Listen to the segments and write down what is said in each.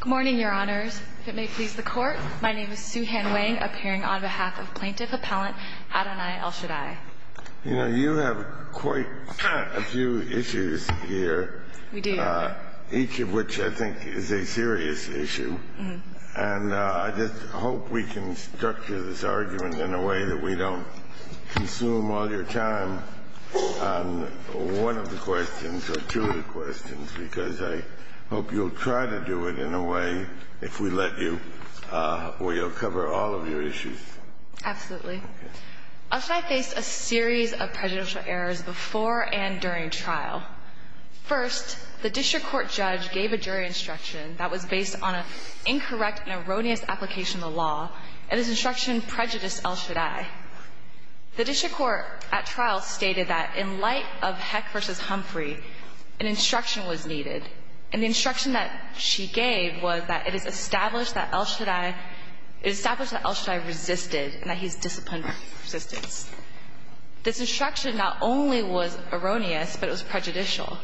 Good morning, Your Honors. If it may please the Court, my name is Sue Han-Wang, appearing on behalf of Plaintiff Appellant Adonai El-Shaddai. You know, you have quite a few issues here. We do. Each of which I think is a serious issue. And I just hope we can structure this argument in a way that we don't consume all your time on one of the questions or two of the questions, because I hope you'll try to do it in a way, if we let you, where you'll cover all of your issues. Absolutely. El-Shaddai faced a series of prejudicial errors before and during trial. First, the district court judge gave a jury instruction that was based on an incorrect and erroneous application of the law, and this instruction prejudiced El-Shaddai. The district court at trial stated that in light of Heck v. Humphrey, an instruction was needed, and the instruction that she gave was that it is established that El-Shaddai resisted and that he is disciplined in resistance. This instruction not only was erroneous, but it was prejudicial.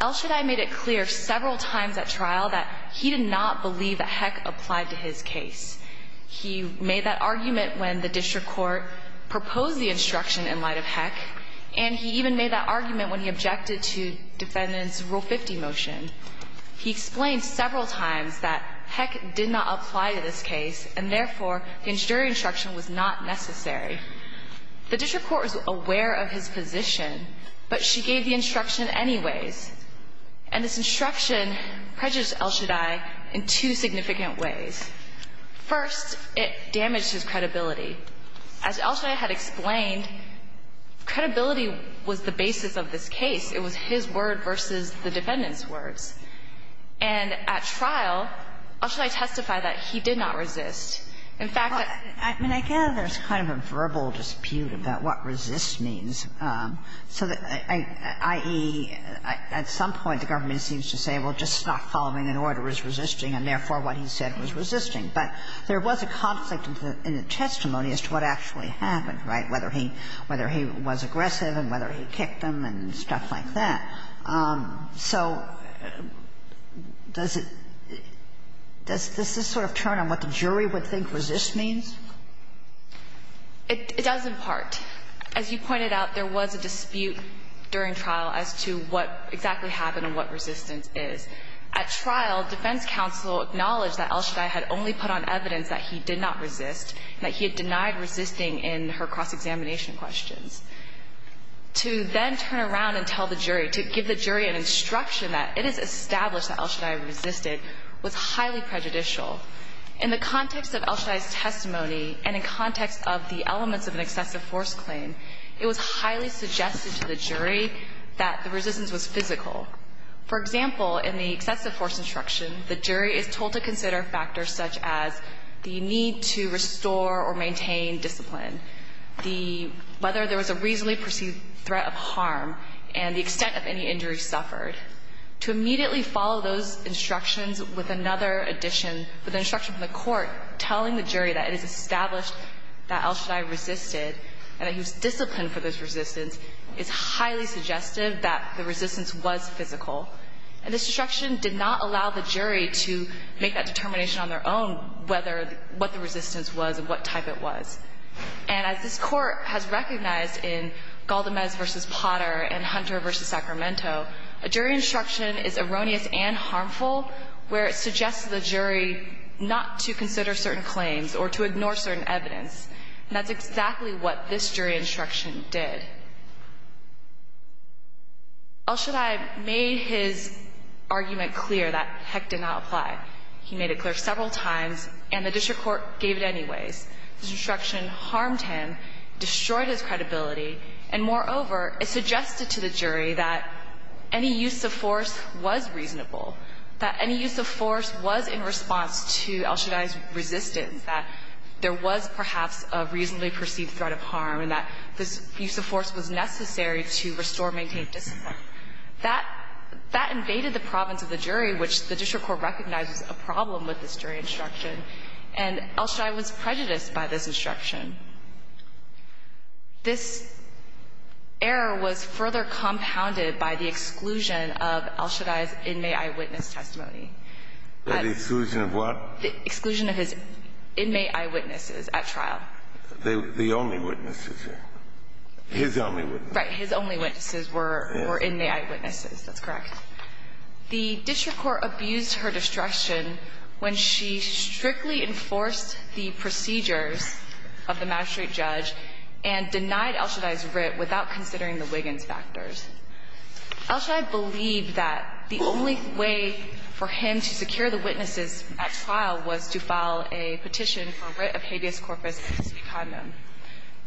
El-Shaddai made it clear several times at trial that he did not believe that Heck applied to his case. He made that argument when the district court proposed the instruction in light of Heck, and he even made that argument when he objected to Defendant's Rule 50 motion. He explained several times that Heck did not apply to this case, and therefore, the jury instruction was not necessary. The district court was aware of his position, but she gave the instruction anyways, and this instruction prejudiced El-Shaddai in two significant ways. First, it damaged his credibility. As El-Shaddai had explained, credibility was the basis of this case. It was his word versus the defendant's words. And at trial, El-Shaddai testified that he did not resist. In fact, that's what he said. I mean, I guess there's kind of a verbal dispute about what resist means, so that i.e., at some point the government seems to say, well, just not following an order is resisting, and therefore, what he said was resisting. But there was a conflict in the testimony as to what actually happened, right, whether he was aggressive and whether he kicked him and stuff like that. So does it – does this sort of turn on what the jury would think resist means? It does, in part. As you pointed out, there was a dispute during trial as to what exactly happened and what resistance is. At trial, defense counsel acknowledged that El-Shaddai had only put on evidence that he did not resist, that he had denied resisting in her cross-examination questions. To then turn around and tell the jury, to give the jury an instruction that it is established that El-Shaddai resisted was highly prejudicial. In the context of El-Shaddai's testimony and in context of the elements of an excessive force claim, it was highly suggested to the jury that the resistance was physical. For example, in the excessive force instruction, the jury is told to consider factors such as the need to restore or maintain discipline, the – whether there was a reasonably perceived threat of harm, and the extent of any injury suffered. To immediately follow those instructions with another addition, with an instruction from the court telling the jury that it is established that El-Shaddai resisted and that he was disciplined for this resistance, is highly suggestive that the resistance was physical. And this instruction did not allow the jury to make that determination on their own whether – what the resistance was and what type it was. And as this Court has recognized in Galdamez v. Potter and Hunter v. Sacramento, a jury instruction is erroneous and harmful where it suggests to the jury not to consider certain claims or to ignore certain evidence. And that's exactly what this jury instruction did. El-Shaddai made his argument clear that heck did not apply. He made it clear several times, and the district court gave it anyways. This instruction harmed him, destroyed his credibility, and moreover, it suggested to the jury that any use of force was reasonable, that any use of force was in response to El-Shaddai's resistance, that there was perhaps a reasonably perceived threat of harm and that this use of force was necessary to restore, maintain discipline. That invaded the province of the jury, which the district court recognized was a problem with this jury instruction. And El-Shaddai was prejudiced by this instruction. This error was further compounded by the exclusion of El-Shaddai's inmate eyewitness testimony. The exclusion of what? The exclusion of his inmate eyewitnesses at trial. The only witnesses. His only witnesses. Right. His only witnesses were inmate eyewitnesses. That's correct. The district court abused her destruction when she strictly enforced the procedures of the magistrate judge and denied El-Shaddai's writ without considering the Wiggins factors. El-Shaddai believed that the only way for him to secure the witnesses at trial was to file a petition for writ of habeas corpus in his condom.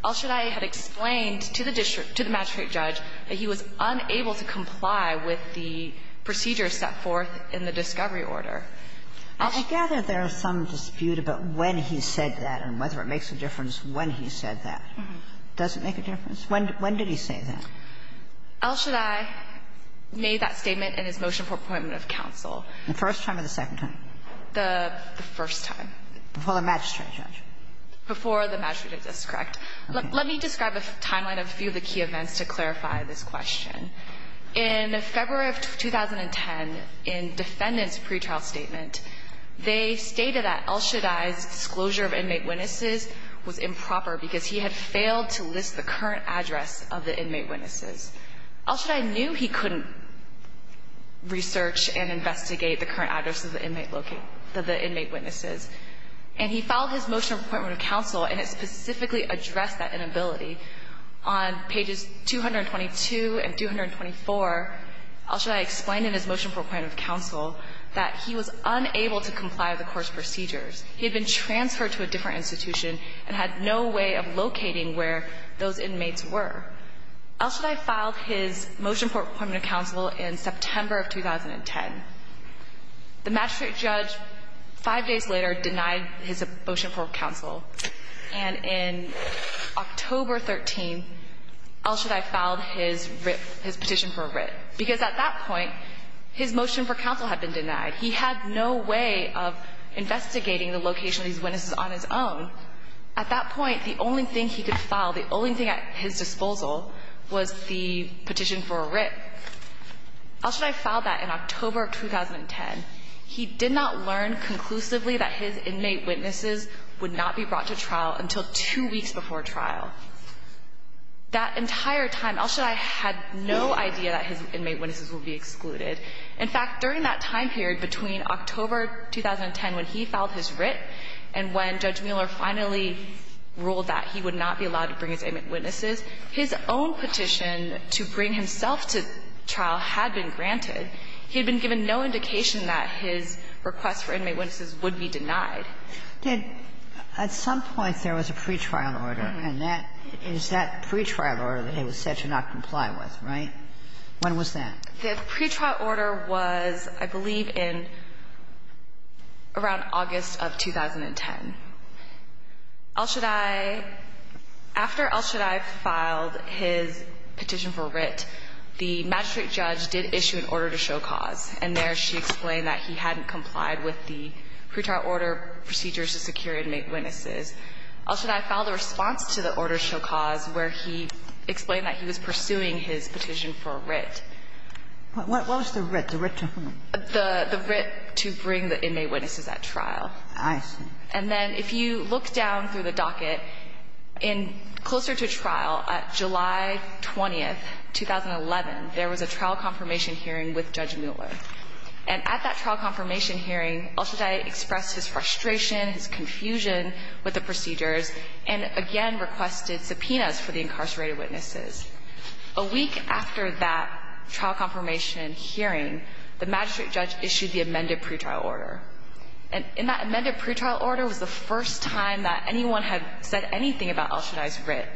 El-Shaddai had explained to the district to the magistrate judge that he was unable to comply with the procedures set forth in the discovery order. I gather there is some dispute about when he said that and whether it makes a difference when he said that. Does it make a difference? When did he say that? El-Shaddai made that statement in his motion for appointment of counsel. The first time or the second time? The first time. Before the magistrate judge? Before the magistrate judge. That's correct. Let me describe a timeline of a few of the key events to clarify this question. In February of 2010, in defendant's pretrial statement, they stated that El-Shaddai's disclosure of inmate witnesses was improper because he had failed to list the current address of the inmate witnesses. El-Shaddai knew he couldn't research and investigate the current address of the inmate location of the inmate witnesses. And he filed his motion for appointment of counsel and it specifically addressed that inability. On pages 222 and 224, El-Shaddai explained in his motion for appointment of counsel that he was unable to comply with the court's procedures. He had been transferred to a different institution and had no way of locating where those inmates were. El-Shaddai filed his motion for appointment of counsel in September of 2010. The magistrate judge, five days later, denied his motion for counsel. And in October 13, El-Shaddai filed his writ, his petition for a writ. Because at that point, his motion for counsel had been denied. He had no way of investigating the location of these witnesses on his own. At that point, the only thing he could file, the only thing at his disposal, was the petition for a writ. El-Shaddai filed that in October of 2010. He did not learn conclusively that his inmate witnesses would not be brought to trial until two weeks before trial. That entire time, El-Shaddai had no idea that his inmate witnesses would be excluded. In fact, during that time period between October 2010 when he filed his writ and when Judge Mueller finally ruled that he would not be allowed to bring his inmate witnesses, his own petition to bring himself to trial had been granted. He had been given no indication that his request for inmate witnesses would be denied. Ginsburg. At some point, there was a pretrial order. And that is that pretrial order that he was said to not comply with, right? When was that? The pretrial order was, I believe, in around August of 2010. El-Shaddai, after El-Shaddai filed his petition for writ, the magistrate judge did issue an order to show cause, and there she explained that he hadn't complied with the pretrial order procedures to secure inmate witnesses. El-Shaddai filed a response to the order to show cause where he explained that he was What was the writ? The writ to whom? The writ to bring the inmate witnesses at trial. I see. And then if you look down through the docket, in closer to trial, at July 20th, 2011, there was a trial confirmation hearing with Judge Mueller. And at that trial confirmation hearing, El-Shaddai expressed his frustration, his confusion with the procedures, and again requested subpoenas for the incarcerated witnesses. A week after that trial confirmation hearing, the magistrate judge issued the amended pretrial order. And in that amended pretrial order was the first time that anyone had said anything about El-Shaddai's writ.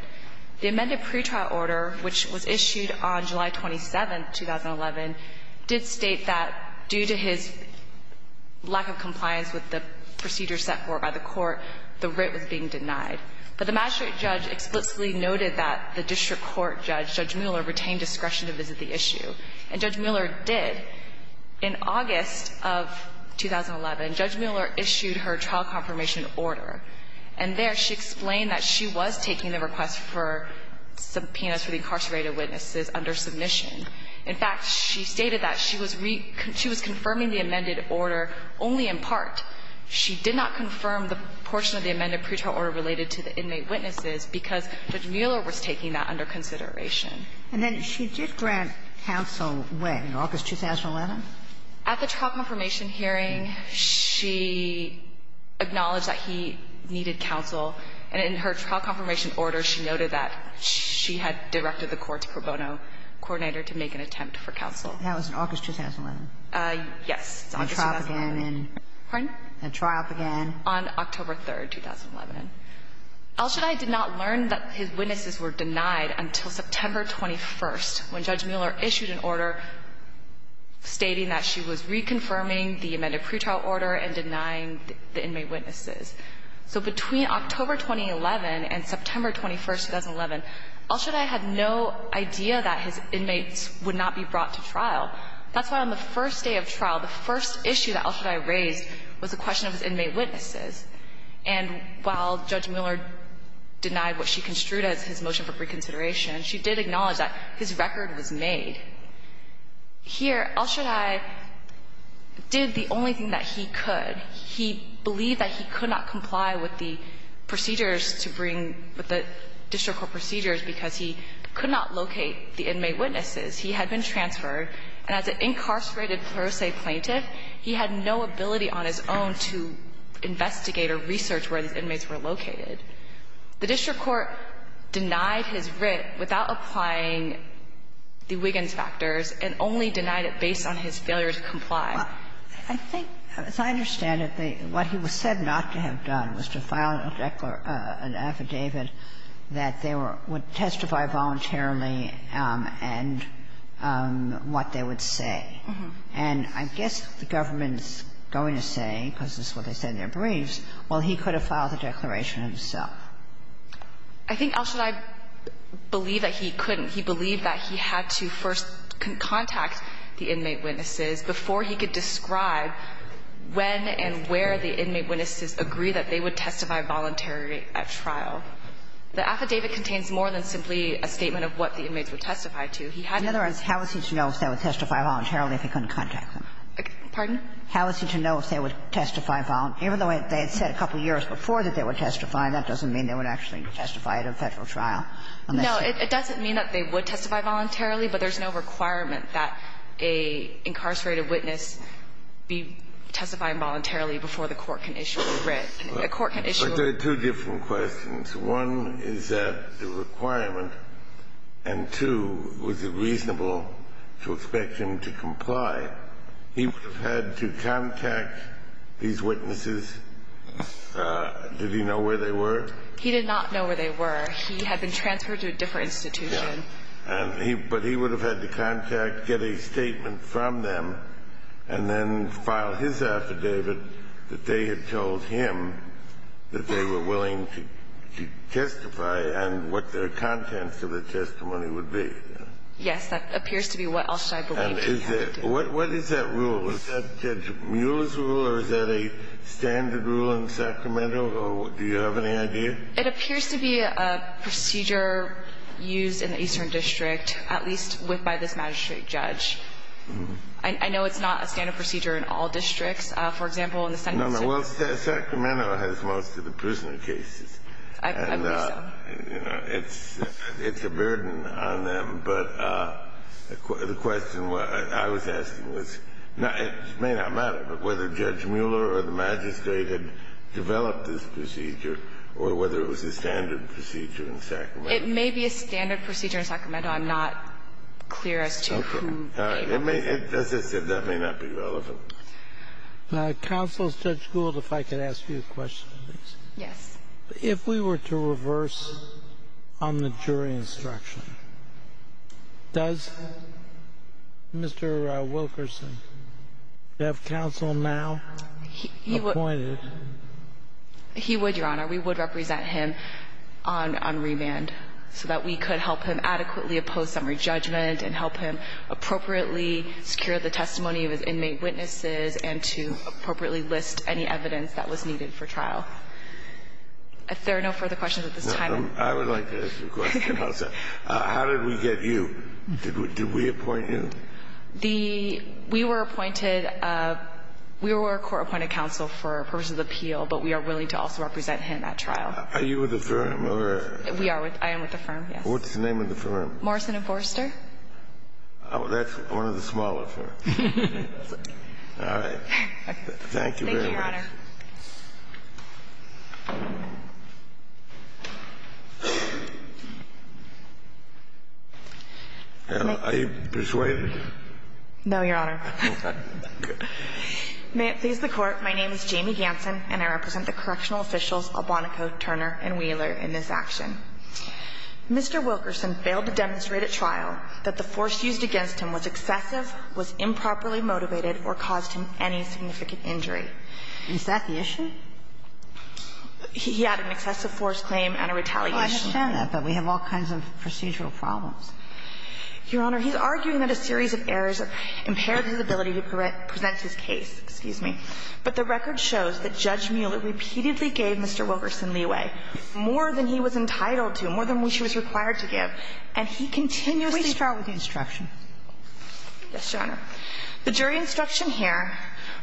The amended pretrial order, which was issued on July 27th, 2011, did state that due to his lack of compliance with the procedures set forth by the court, the writ was being denied. But the magistrate judge explicitly noted that the district court judge, Judge Mueller, retained discretion to visit the issue. And Judge Mueller did. In August of 2011, Judge Mueller issued her trial confirmation order. And there she explained that she was taking the request for subpoenas for the incarcerated witnesses under submission. In fact, she stated that she was confirming the amended order only in part. She did not confirm the portion of the amended pretrial order related to the inmate witnesses because Judge Mueller was taking that under consideration. And then she did grant counsel when, in August 2011? At the trial confirmation hearing, she acknowledged that he needed counsel. And in her trial confirmation order, she noted that she had directed the court to pro bono coordinate her to make an attempt for counsel. That was in August 2011? Yes. At trial again. Pardon? At trial again. On October 3rd, 2011. Elshadai did not learn that his witnesses were denied until September 21st, when Judge Mueller issued an order stating that she was reconfirming the amended pretrial order and denying the inmate witnesses. So between October 2011 and September 21st, 2011, Elshadai had no idea that his inmates would not be brought to trial. That's why on the first day of trial, the first issue that Elshadai raised was the question of his inmate witnesses. And while Judge Mueller denied what she construed as his motion for reconsideration, she did acknowledge that his record was made. Here, Elshadai did the only thing that he could. He believed that he could not comply with the procedures to bring the district court procedures because he could not locate the inmate witnesses. He had been transferred. And as an incarcerated pro se plaintiff, he had no ability on his own to investigate or research where his inmates were located. The district court denied his writ without applying the Wiggins factors and only denied it based on his failure to comply. I think, as I understand it, what he was said not to have done was to file an affidavit that they would testify voluntarily and what they would say. And I guess the government's going to say, because this is what they said in their briefs, well, he could have filed the declaration himself. I think Elshadai believed that he couldn't. He believed that he had to first contact the inmate witnesses before he could describe when and where the inmate witnesses agree that they would testify voluntarily at trial. The affidavit contains more than simply a statement of what the inmates would testify He had to do that. Kagan in other words, how is he to know if they would testify voluntarily if he couldn't contact them? Pardon? How is he to know if they would testify voluntarily? Even though they had said a couple years before that they would testify, that doesn't mean they would actually testify at a Federal trial. No. It doesn't mean that they would testify voluntarily, but there's no requirement that an incarcerated witness be testified voluntarily before the court can issue a writ. A court can issue a writ. But there are two different questions. One is that the requirement, and two, was it reasonable to expect him to comply? He would have had to contact these witnesses. Did he know where they were? He did not know where they were. He had been transferred to a different institution. But he would have had to contact, get a statement from them, and then file his affidavit that they had told him that they were willing to testify and what their contents of the testimony would be. Yes. That appears to be what else I believe he had to do. What is that rule? Is that Judge Mueller's rule or is that a standard rule in Sacramento, or do you have any idea? It appears to be a procedure used in the Eastern District, at least by this magistrate judge. I know it's not a standard procedure in all districts. For example, in the Senate district. No, no. Well, Sacramento has most of the prisoner cases. I believe so. And, you know, it's a burden on them. But the question I was asking was, it may not matter, but whether Judge Mueller or the magistrate had developed this procedure or whether it was a standard procedure in Sacramento. It may be a standard procedure in Sacramento. I'm not clear as to who gave it. Okay. All right. As I said, that may not be relevant. Counsel, Judge Gould, if I could ask you a question, please. Yes. If we were to reverse on the jury instruction, does Mr. Wilkerson have counsel now appointed? He would, Your Honor. We would represent him on remand so that we could help him adequately oppose summary judgment and help him appropriately secure the testimony of his inmate witnesses and to appropriately list any evidence that was needed for trial. If there are no further questions at this time. I would like to ask you a question about that. How did we get you? Did we appoint you? We were court-appointed counsel for purposes of appeal, but we are willing to also represent him at trial. Are you with the firm? We are. I am with the firm, yes. What's the name of the firm? Morrison and Forster. Oh, that's one of the smaller firms. All right. Thank you very much. Thank you, Your Honor. Are you persuaded? No, Your Honor. May it please the Court, my name is Jamie Ganson, and I represent the correctional officials Albonaco, Turner, and Wheeler in this action. Mr. Wilkerson failed to demonstrate at trial that the force used against him was excessive, was improperly motivated, or caused him any significant injury. Is that the issue? He had an excessive force claim and a retaliation. I understand that, but we have all kinds of procedural problems. Your Honor, he's arguing that a series of errors impaired his ability to present his case. Excuse me. But the record shows that Judge Mueller repeatedly gave Mr. Wilkerson leeway, more than he was entitled to, more than he was required to give, and he continuously failed the instruction. Yes, Your Honor. The jury instruction here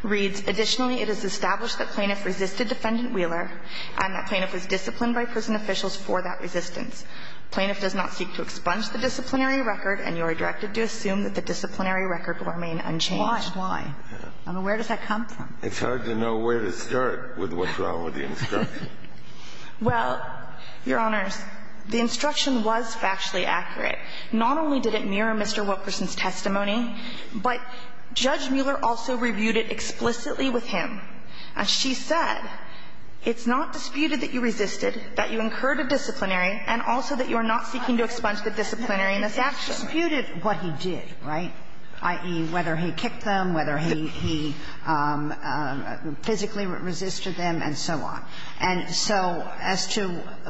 reads, additionally, it is established that plaintiff resisted Defendant Wheeler and that plaintiff was disciplined by prison officials for that resistance. Plaintiff does not seek to expunge the disciplinary record and you are directed to assume that the disciplinary record will remain unchanged. Why? Why? I mean, where does that come from? It's hard to know where to start with what's wrong with the instruction. Well, Your Honors, the instruction was factually accurate. Not only did it mirror Mr. Wilkerson's testimony, but Judge Mueller also reviewed it explicitly with him. And she said, it's not disputed that you resisted, that you incurred a disciplinary and also that you are not seeking to expunge the disciplinariness actually. But he disputed what he did, right? I.e., whether he kicked them, whether he physically resisted them and so on. And so as to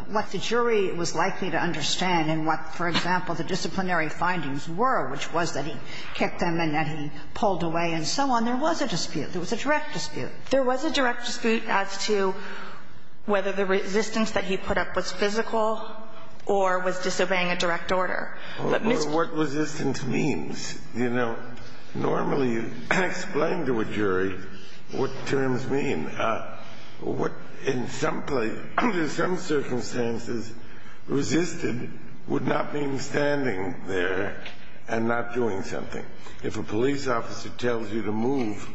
what the jury was likely to understand and what, for example, the disciplinary findings were, which was that he kicked them and that he pulled away and so on, there was a dispute. There was a direct dispute. There was a direct dispute as to whether the resistance that he put up was physical or was disobeying a direct order. What resistance means? You know, normally you explain to a jury what terms mean. In some circumstances, resisted would not mean standing there and not doing something. If a police officer tells you to move,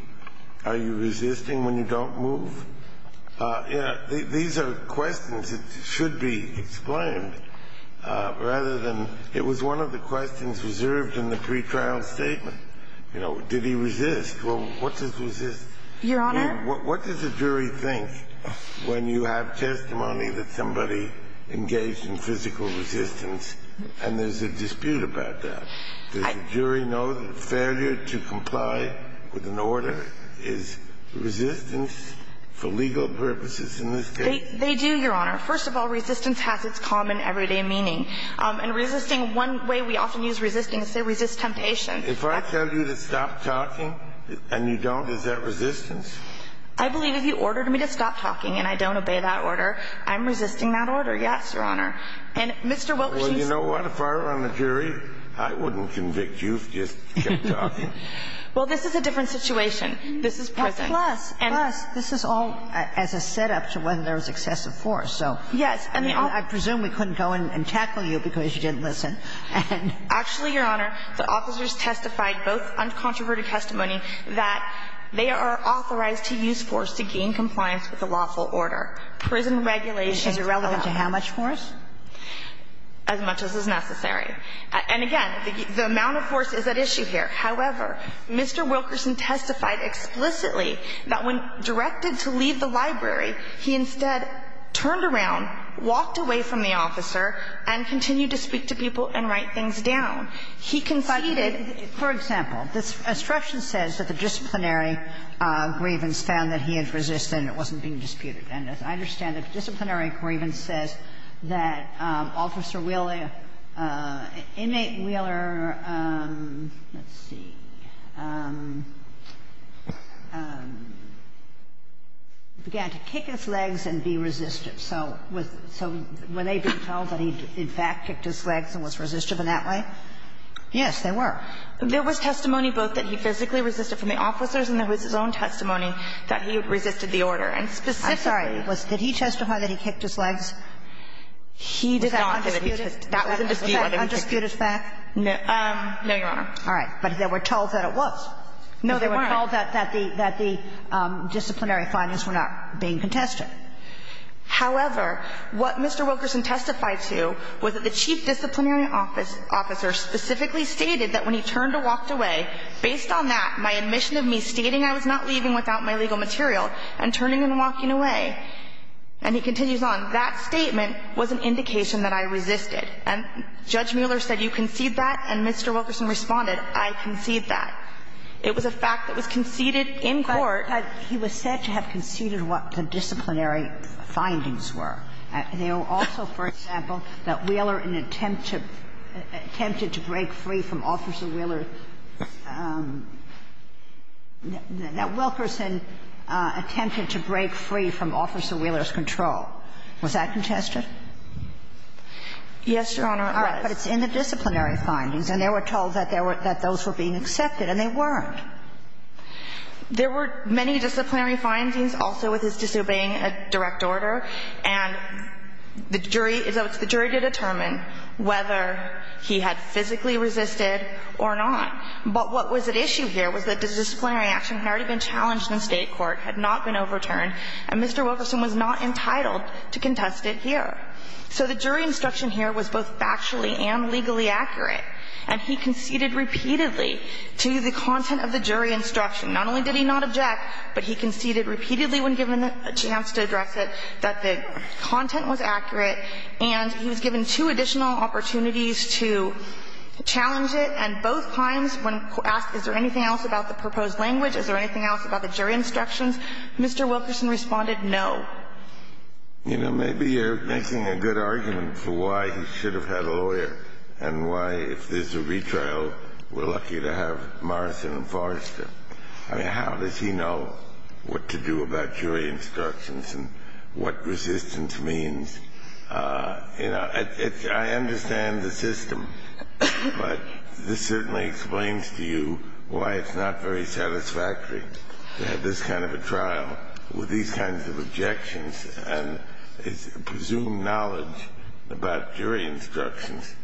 are you resisting when you don't move? You know, these are questions that should be explained rather than it was one of the questions reserved in the pretrial statement. You know, did he resist? Well, what does resist mean? Your Honor? What does a jury think when you have testimony that somebody engaged in physical resistance and there's a dispute about that? Does the jury know that failure to comply with an order is resistance for legal purposes in this case? They do, Your Honor. First of all, resistance has its common everyday meaning. And resisting, one way we often use resisting is to say resist temptation. If I tell you to stop talking and you don't, is that resistance? I believe if you ordered me to stop talking and I don't obey that order, I'm resisting that order. Yes, Your Honor. And Mr. Wilk, you see the point. I wouldn't convict you if you just kept talking. Well, this is a different situation. This is prison. Plus, this is all as a setup to whether there was excessive force. Yes. I presume we couldn't go in and tackle you because you didn't listen. Actually, Your Honor, the officers testified, both uncontroverted testimony, that they are authorized to use force to gain compliance with the lawful order. Is it relevant to how much force? As much as is necessary. And again, the amount of force is at issue here. However, Mr. Wilkerson testified explicitly that when directed to leave the library, he instead turned around, walked away from the officer and continued to speak to people and write things down. He conceded. For example, this instruction says that the disciplinary grievance found that he had resisted and it wasn't being disputed. And as I understand it, disciplinary grievance says that Officer Wheeler, Inmate Wheeler, let's see, began to kick his legs and be resistive. So was they being told that he in fact kicked his legs and was resistive in that way? Yes, they were. There was testimony both that he physically resisted from the officers and there was testimony that he resisted the order. I'm sorry. Did he testify that he kicked his legs? Was that undisputed? Was that undisputed fact? No, Your Honor. All right. But they were told that it was. No, they weren't. They were told that the disciplinary findings were not being contested. However, what Mr. Wilkerson testified to was that the chief disciplinary officer specifically stated that when he turned or walked away, based on that, my admission of me stating I was not leaving without my legal material and turning and walking away, and he continues on, that statement was an indication that I resisted. And Judge Mueller said, you concede that? And Mr. Wilkerson responded, I concede that. It was a fact that was conceded in court. But he was said to have conceded what the disciplinary findings were. They were also, for example, that Wheeler in an attempt to break free from Officer Wheeler, that Wilkerson attempted to break free from Officer Wheeler's control. Was that contested? Yes, Your Honor, it was. All right. But it's in the disciplinary findings. And they were told that those were being accepted. And they weren't. There were many disciplinary findings also with his disobeying a direct order. And the jury, it's up to the jury to determine whether he had physically resisted or not. But what was at issue here was that the disciplinary action had already been challenged in State court, had not been overturned, and Mr. Wilkerson was not entitled to contest it here. So the jury instruction here was both factually and legally accurate. And he conceded repeatedly to the content of the jury instruction. Not only did he not object, but he conceded repeatedly when given a chance to address it that the content was accurate. And he was given two additional opportunities to challenge it. And both times when asked is there anything else about the proposed language, is there anything else about the jury instructions, Mr. Wilkerson responded no. You know, maybe you're making a good argument for why he should have had a lawyer and why if there's a retrial we're lucky to have Morrison and Forrester. I mean, how does he know what to do about jury instructions and what resistance means? You know, I understand the system, but this certainly explains to you why it's not very satisfactory to have this kind of a trial with these kinds of objections and presumed knowledge about jury instructions.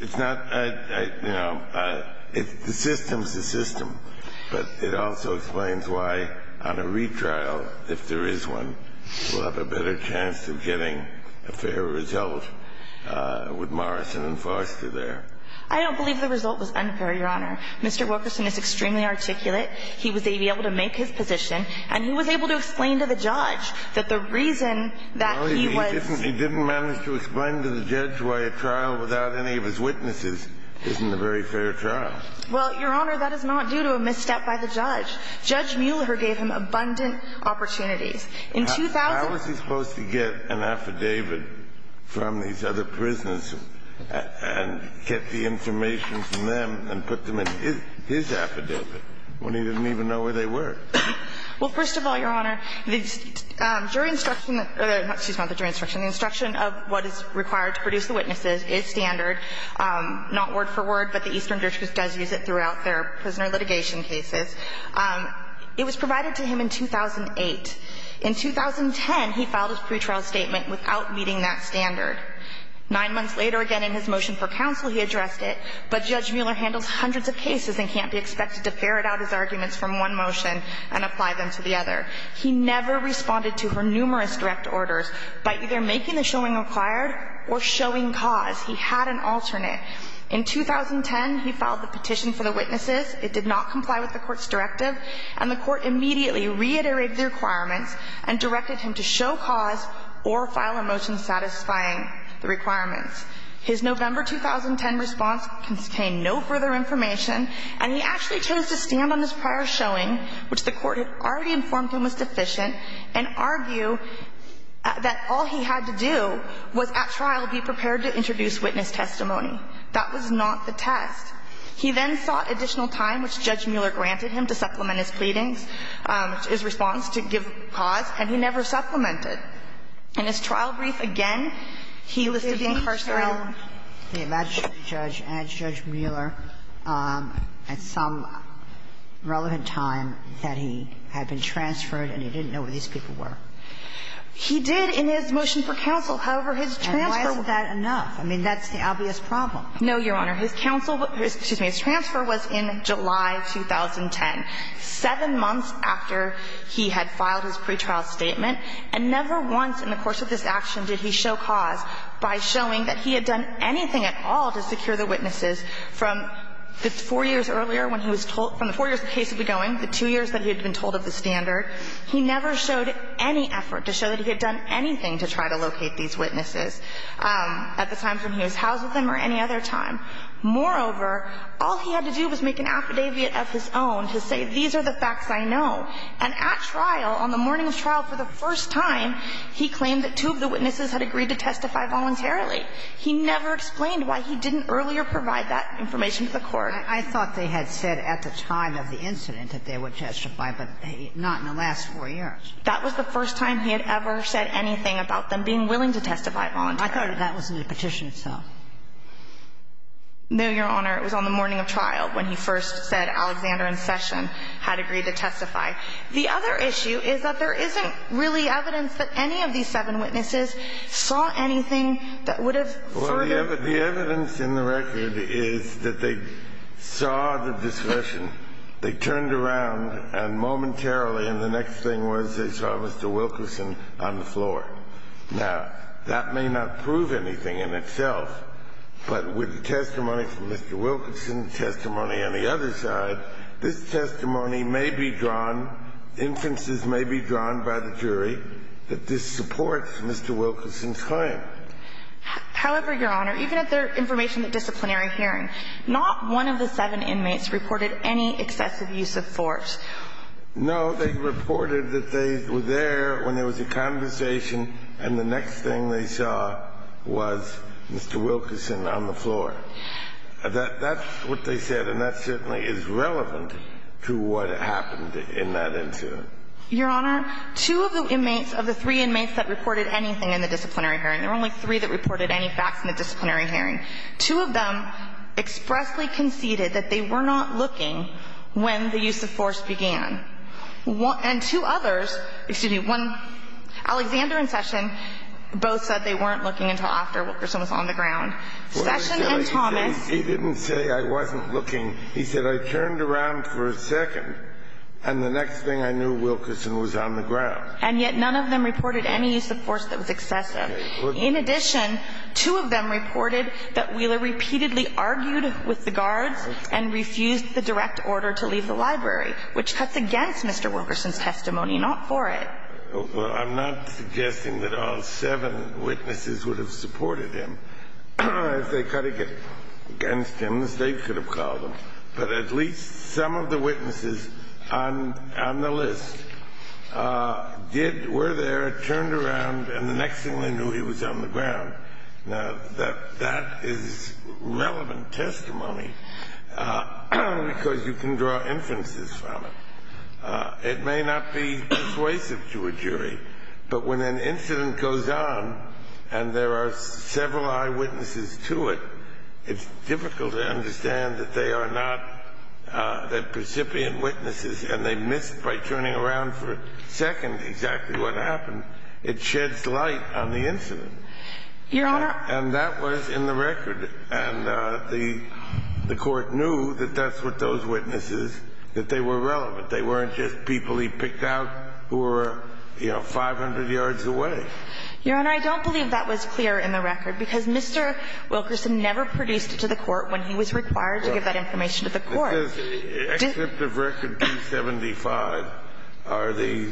It's not, you know, the system's the system. But it also explains why on a retrial, if there is one, we'll have a better chance of getting a fair result with Morrison and Forrester there. I don't believe the result was unfair, Your Honor. Mr. Wilkerson is extremely articulate. He was able to make his position. And he was able to explain to the judge that the reason that he was No, he didn't manage to explain to the judge why a trial without any of his witnesses isn't a very fair trial. Well, Your Honor, that is not due to a misstep by the judge. Judge Mueller gave him abundant opportunities. In 2000 How was he supposed to get an affidavit from these other prisoners and get the information from them and put them in his affidavit when he didn't even know where they were? Well, first of all, Your Honor, the jury instruction, excuse me, not the jury instruction, the instruction of what is required to produce the witnesses is standard. Not word for word, but the Eastern Jurisprudence does use it throughout their prisoner litigation cases. It was provided to him in 2008. In 2010, he filed his pretrial statement without meeting that standard. Nine months later, again, in his motion for counsel, he addressed it. But Judge Mueller handles hundreds of cases and can't be expected to ferret out his motion and apply them to the other. He never responded to her numerous direct orders by either making the showing required or showing cause. He had an alternate. In 2010, he filed the petition for the witnesses. It did not comply with the Court's directive, and the Court immediately reiterated the requirements and directed him to show cause or file a motion satisfying the requirements. His November 2010 response contained no further information, and he actually chose to stand on his prior showing, which the Court had already informed him was deficient, and argue that all he had to do was at trial be prepared to introduce witness testimony. That was not the test. He then sought additional time, which Judge Mueller granted him, to supplement his pleadings, his response to give cause, and he never supplemented. In his trial brief, again, he listed the incarceration. The Magistrate judge and Judge Mueller at some relevant time that he had been transferred and he didn't know where these people were. He did in his motion for counsel. However, his transfer was No, Your Honor. His counsel was Excuse me. His transfer was in July 2010, seven months after he had filed his pretrial statement, and never once in the course of this action did he show cause by showing that he had done anything at all to secure the witnesses from the four years earlier when he was told from the four years the case had been going, the two years that he had been told of the standard. He never showed any effort to show that he had done anything to try to locate these witnesses at the time when he was housed with them or any other time. Moreover, all he had to do was make an affidavit of his own to say these are the facts I know. And at trial on the morning of trial for the first time, he claimed that two of the witnesses had agreed to testify voluntarily. He never explained why he didn't earlier provide that information to the court. I thought they had said at the time of the incident that they would testify, but not in the last four years. That was the first time he had ever said anything about them being willing to testify voluntarily. I thought that was in the petition itself. No, Your Honor. It was on the morning of trial when he first said Alexander and Session had agreed to testify. The other issue is that there isn't really evidence that any of these seven witnesses saw anything that would have furthered. Well, the evidence in the record is that they saw the discussion. They turned around and momentarily, and the next thing was they saw Mr. Wilkerson on the floor. Now, that may not prove anything in itself, but with the testimony from Mr. Wilkerson, testimony on the other side, this testimony may be drawn, inferences may be drawn by the jury that this supports Mr. Wilkerson's claim. However, Your Honor, even at the information at disciplinary hearing, not one of the seven inmates reported any excessive use of force. No, they reported that they were there when there was a conversation, and the next thing they saw was Mr. Wilkerson on the floor. That's what they said, and that certainly is relevant to what happened in that incident. Your Honor, two of the inmates, of the three inmates that reported anything in the disciplinary hearing, there were only three that reported any facts in the disciplinary hearing, two of them expressly conceded that they were not looking when the use of force began, and two others, excuse me, one, Alexander and Session both said they weren't looking until after Wilkerson was on the ground. Session and Thomas. He didn't say I wasn't looking. He said I turned around for a second, and the next thing I knew, Wilkerson was on the ground. And yet none of them reported any use of force that was excessive. In addition, two of them reported that Wheeler repeatedly argued with the guards and refused the direct order to leave the library, which cuts against Mr. Wilkerson's testimony, not for it. I'm not suggesting that all seven witnesses would have supported him. If they cut against him, as they should have called him, but at least some of the witnesses on the list did, were there, turned around, and the next thing they knew, he was on the ground. Now, that is relevant testimony because you can draw inferences from it. It may not be persuasive to a jury. But when an incident goes on and there are several eyewitnesses to it, it's difficult to understand that they are not the recipient witnesses and they missed by turning around for a second exactly what happened. It sheds light on the incident. And that was in the record. And the Court knew that that's what those witnesses, that they were relevant. They weren't just people he picked out who were, you know, 500 yards away. Your Honor, I don't believe that was clear in the record because Mr. Wilkerson never produced it to the Court when he was required to give that information to the Court. Except the record 275 are the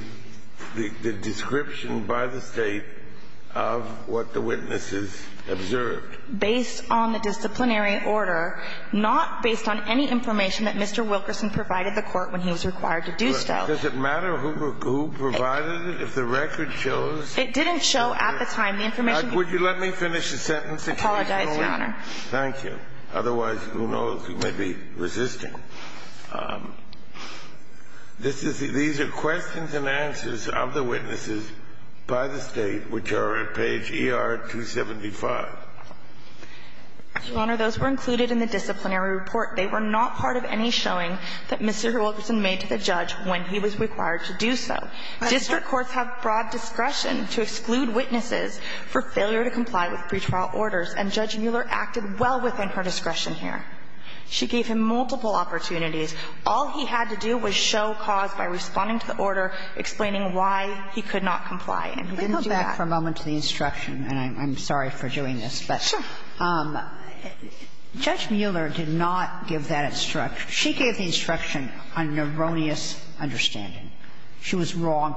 description by the State of what the witnesses observed. Based on the disciplinary order, not based on any information that Mr. Wilkerson provided the Court when he was required to do so. Does it matter who provided it, if the record shows? It didn't show at the time. Would you let me finish the sentence? I apologize, Your Honor. Thank you. Otherwise, who knows? You may be resisting. These are questions and answers of the witnesses by the State, which are at page ER-275. Your Honor, those were included in the disciplinary report. They were not part of any showing that Mr. Wilkerson made to the judge when he was required to do so. District courts have broad discretion to exclude witnesses for failure to comply with pretrial orders, and Judge Mueller acted well within her discretion here. She gave him multiple opportunities. All he had to do was show cause by responding to the order explaining why he could not comply, and he didn't do that. Let me go back for a moment to the instruction, and I'm sorry for doing this. Sure. Judge Mueller did not give that instruction. She gave the instruction on erroneous understanding. She was wrong.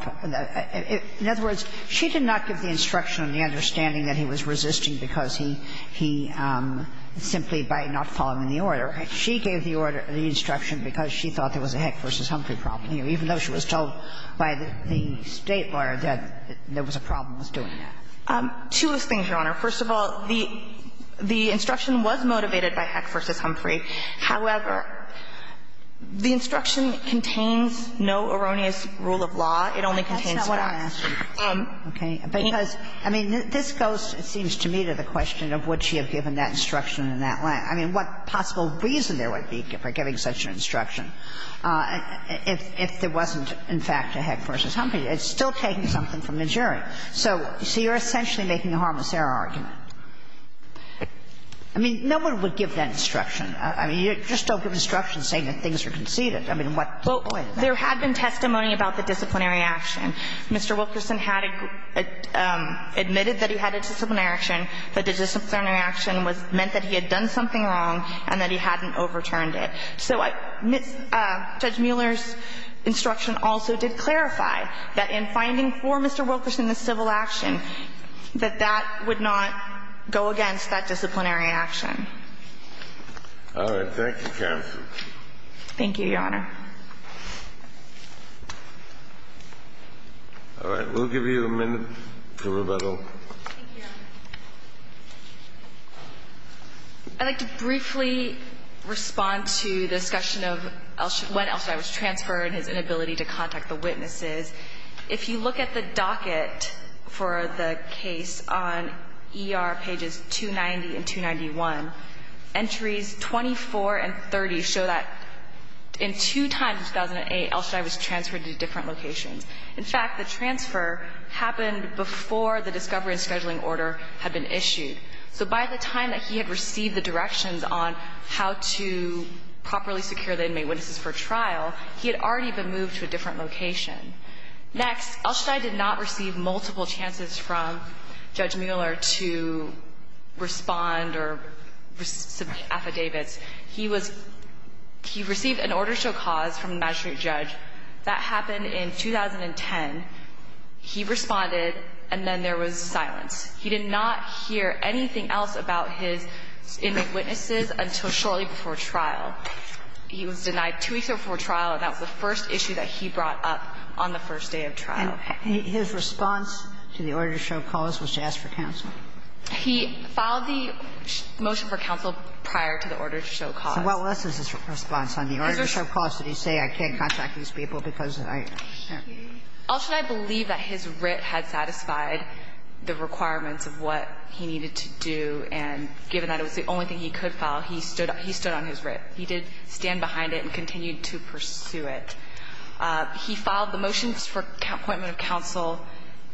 In other words, she did not give the instruction on the understanding that he was resisting because he simply by not following the order. She gave the order, the instruction, because she thought there was a Heck v. Humphrey problem here, even though she was told by the State lawyer that there was a problem with doing that. Two of the things, Your Honor. First of all, the instruction was motivated by Heck v. Humphrey. However, the instruction contains no erroneous rule of law. It only contains facts. That's not what I'm asking. Okay. Because, I mean, this goes, it seems to me, to the question of would she have given that instruction in that line. I mean, what possible reason there would be for giving such an instruction if there wasn't, in fact, a Heck v. Humphrey? It's still taking something from the jury. Right. So you're essentially making a harmless error argument. I mean, no one would give that instruction. I mean, you just don't give instructions saying that things are conceded. I mean, what point is that? Well, there had been testimony about the disciplinary action. Mr. Wilkerson had admitted that he had a disciplinary action, but the disciplinary action meant that he had done something wrong and that he hadn't overturned it. So Judge Mueller's instruction also did clarify that in finding for Mr. Wilkerson the civil action, that that would not go against that disciplinary action. All right. Thank you, counsel. Thank you, Your Honor. All right. We'll give you a minute for rebuttal. Thank you, Your Honor. I'd like to briefly respond to the discussion of when Elshadai was transferred and his inability to contact the witnesses. If you look at the docket for the case on ER pages 290 and 291, entries 24 and 30 show that in two times in 2008 Elshadai was transferred to different locations. In fact, the transfer happened before the discovery and scheduling order had been issued. So by the time that he had received the directions on how to properly secure the Next, Elshadai did not receive multiple chances from Judge Mueller to respond or submit affidavits. He was – he received an order to show cause from the magistrate judge. That happened in 2010. He responded, and then there was silence. He did not hear anything else about his inmate witnesses until shortly before trial. He was denied two weeks before trial, and that was the first issue that he brought up on the first day of trial. And his response to the order to show cause was to ask for counsel. He filed the motion for counsel prior to the order to show cause. So what was his response on the order to show cause? Did he say, I can't contact these people because I – Elshadai believed that his writ had satisfied the requirements of what he needed to do, and given that it was the only thing he could file, he stood on his writ. He did stand behind it and continued to pursue it. He filed the motions for appointment of counsel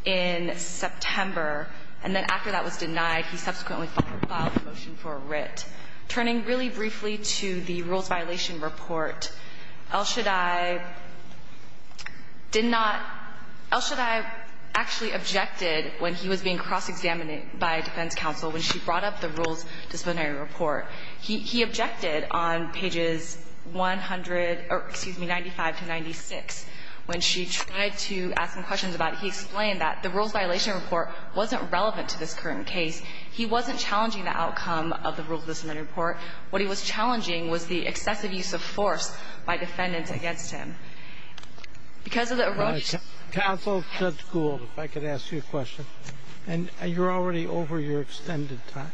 in September, and then after that was denied, he subsequently filed the motion for a writ. Turning really briefly to the rules violation report, Elshadai did not – Elshadai actually objected when he was being cross-examined by defense counsel when she brought up the rules disciplinary report. He – he objected on pages 100 – or, excuse me, 95 to 96 when she tried to ask him questions about it. He explained that the rules violation report wasn't relevant to this current case. He wasn't challenging the outcome of the rules disciplinary report. What he was challenging was the excessive use of force by defendants against him. Because of the erosion – Sotomayor, counsel, Judge Gould, if I could ask you a question. And you're already over your extended time.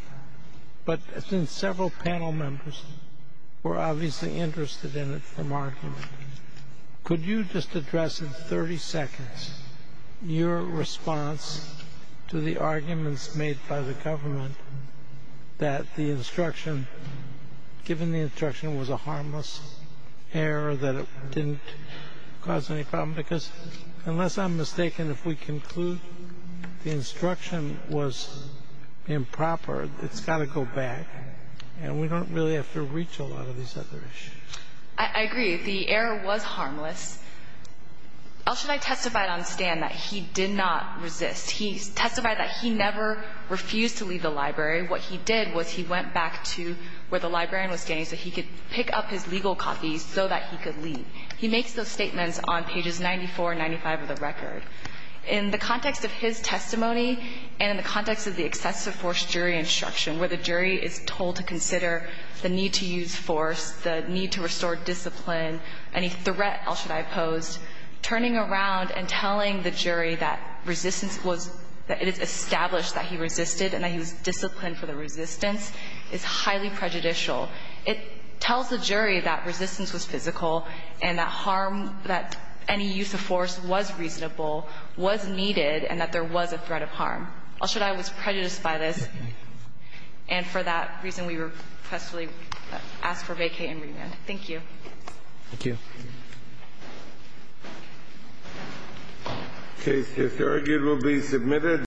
But since several panel members were obviously interested in it from argument, could you just address in 30 seconds your response to the arguments made by the government that the instruction – given the instruction was a harmless error, that it didn't cause any problem? Because unless I'm mistaken, if we conclude the instruction was improper, it's got to go back. And we don't really have to reach a lot of these other issues. I agree. The error was harmless. Elshadai testified on stand that he did not resist. He testified that he never refused to leave the library. What he did was he went back to where the librarian was standing so he could pick up his legal copies so that he could leave. He makes those statements on pages 94 and 95 of the record. In the context of his testimony and in the context of the excessive force jury instruction, where the jury is told to consider the need to use force, the need to restore discipline, any threat Elshadai posed, turning around and telling the jury that resistance was – that it is established that he resisted and that he was disciplined for the resistance is highly prejudicial. It tells the jury that resistance was physical and that harm – that any use of force was reasonable, was needed, and that there was a threat of harm. Elshadai was prejudiced by this. And for that reason, we requestfully ask for vacate and remand. Thank you. Thank you. The case is arguably submitted.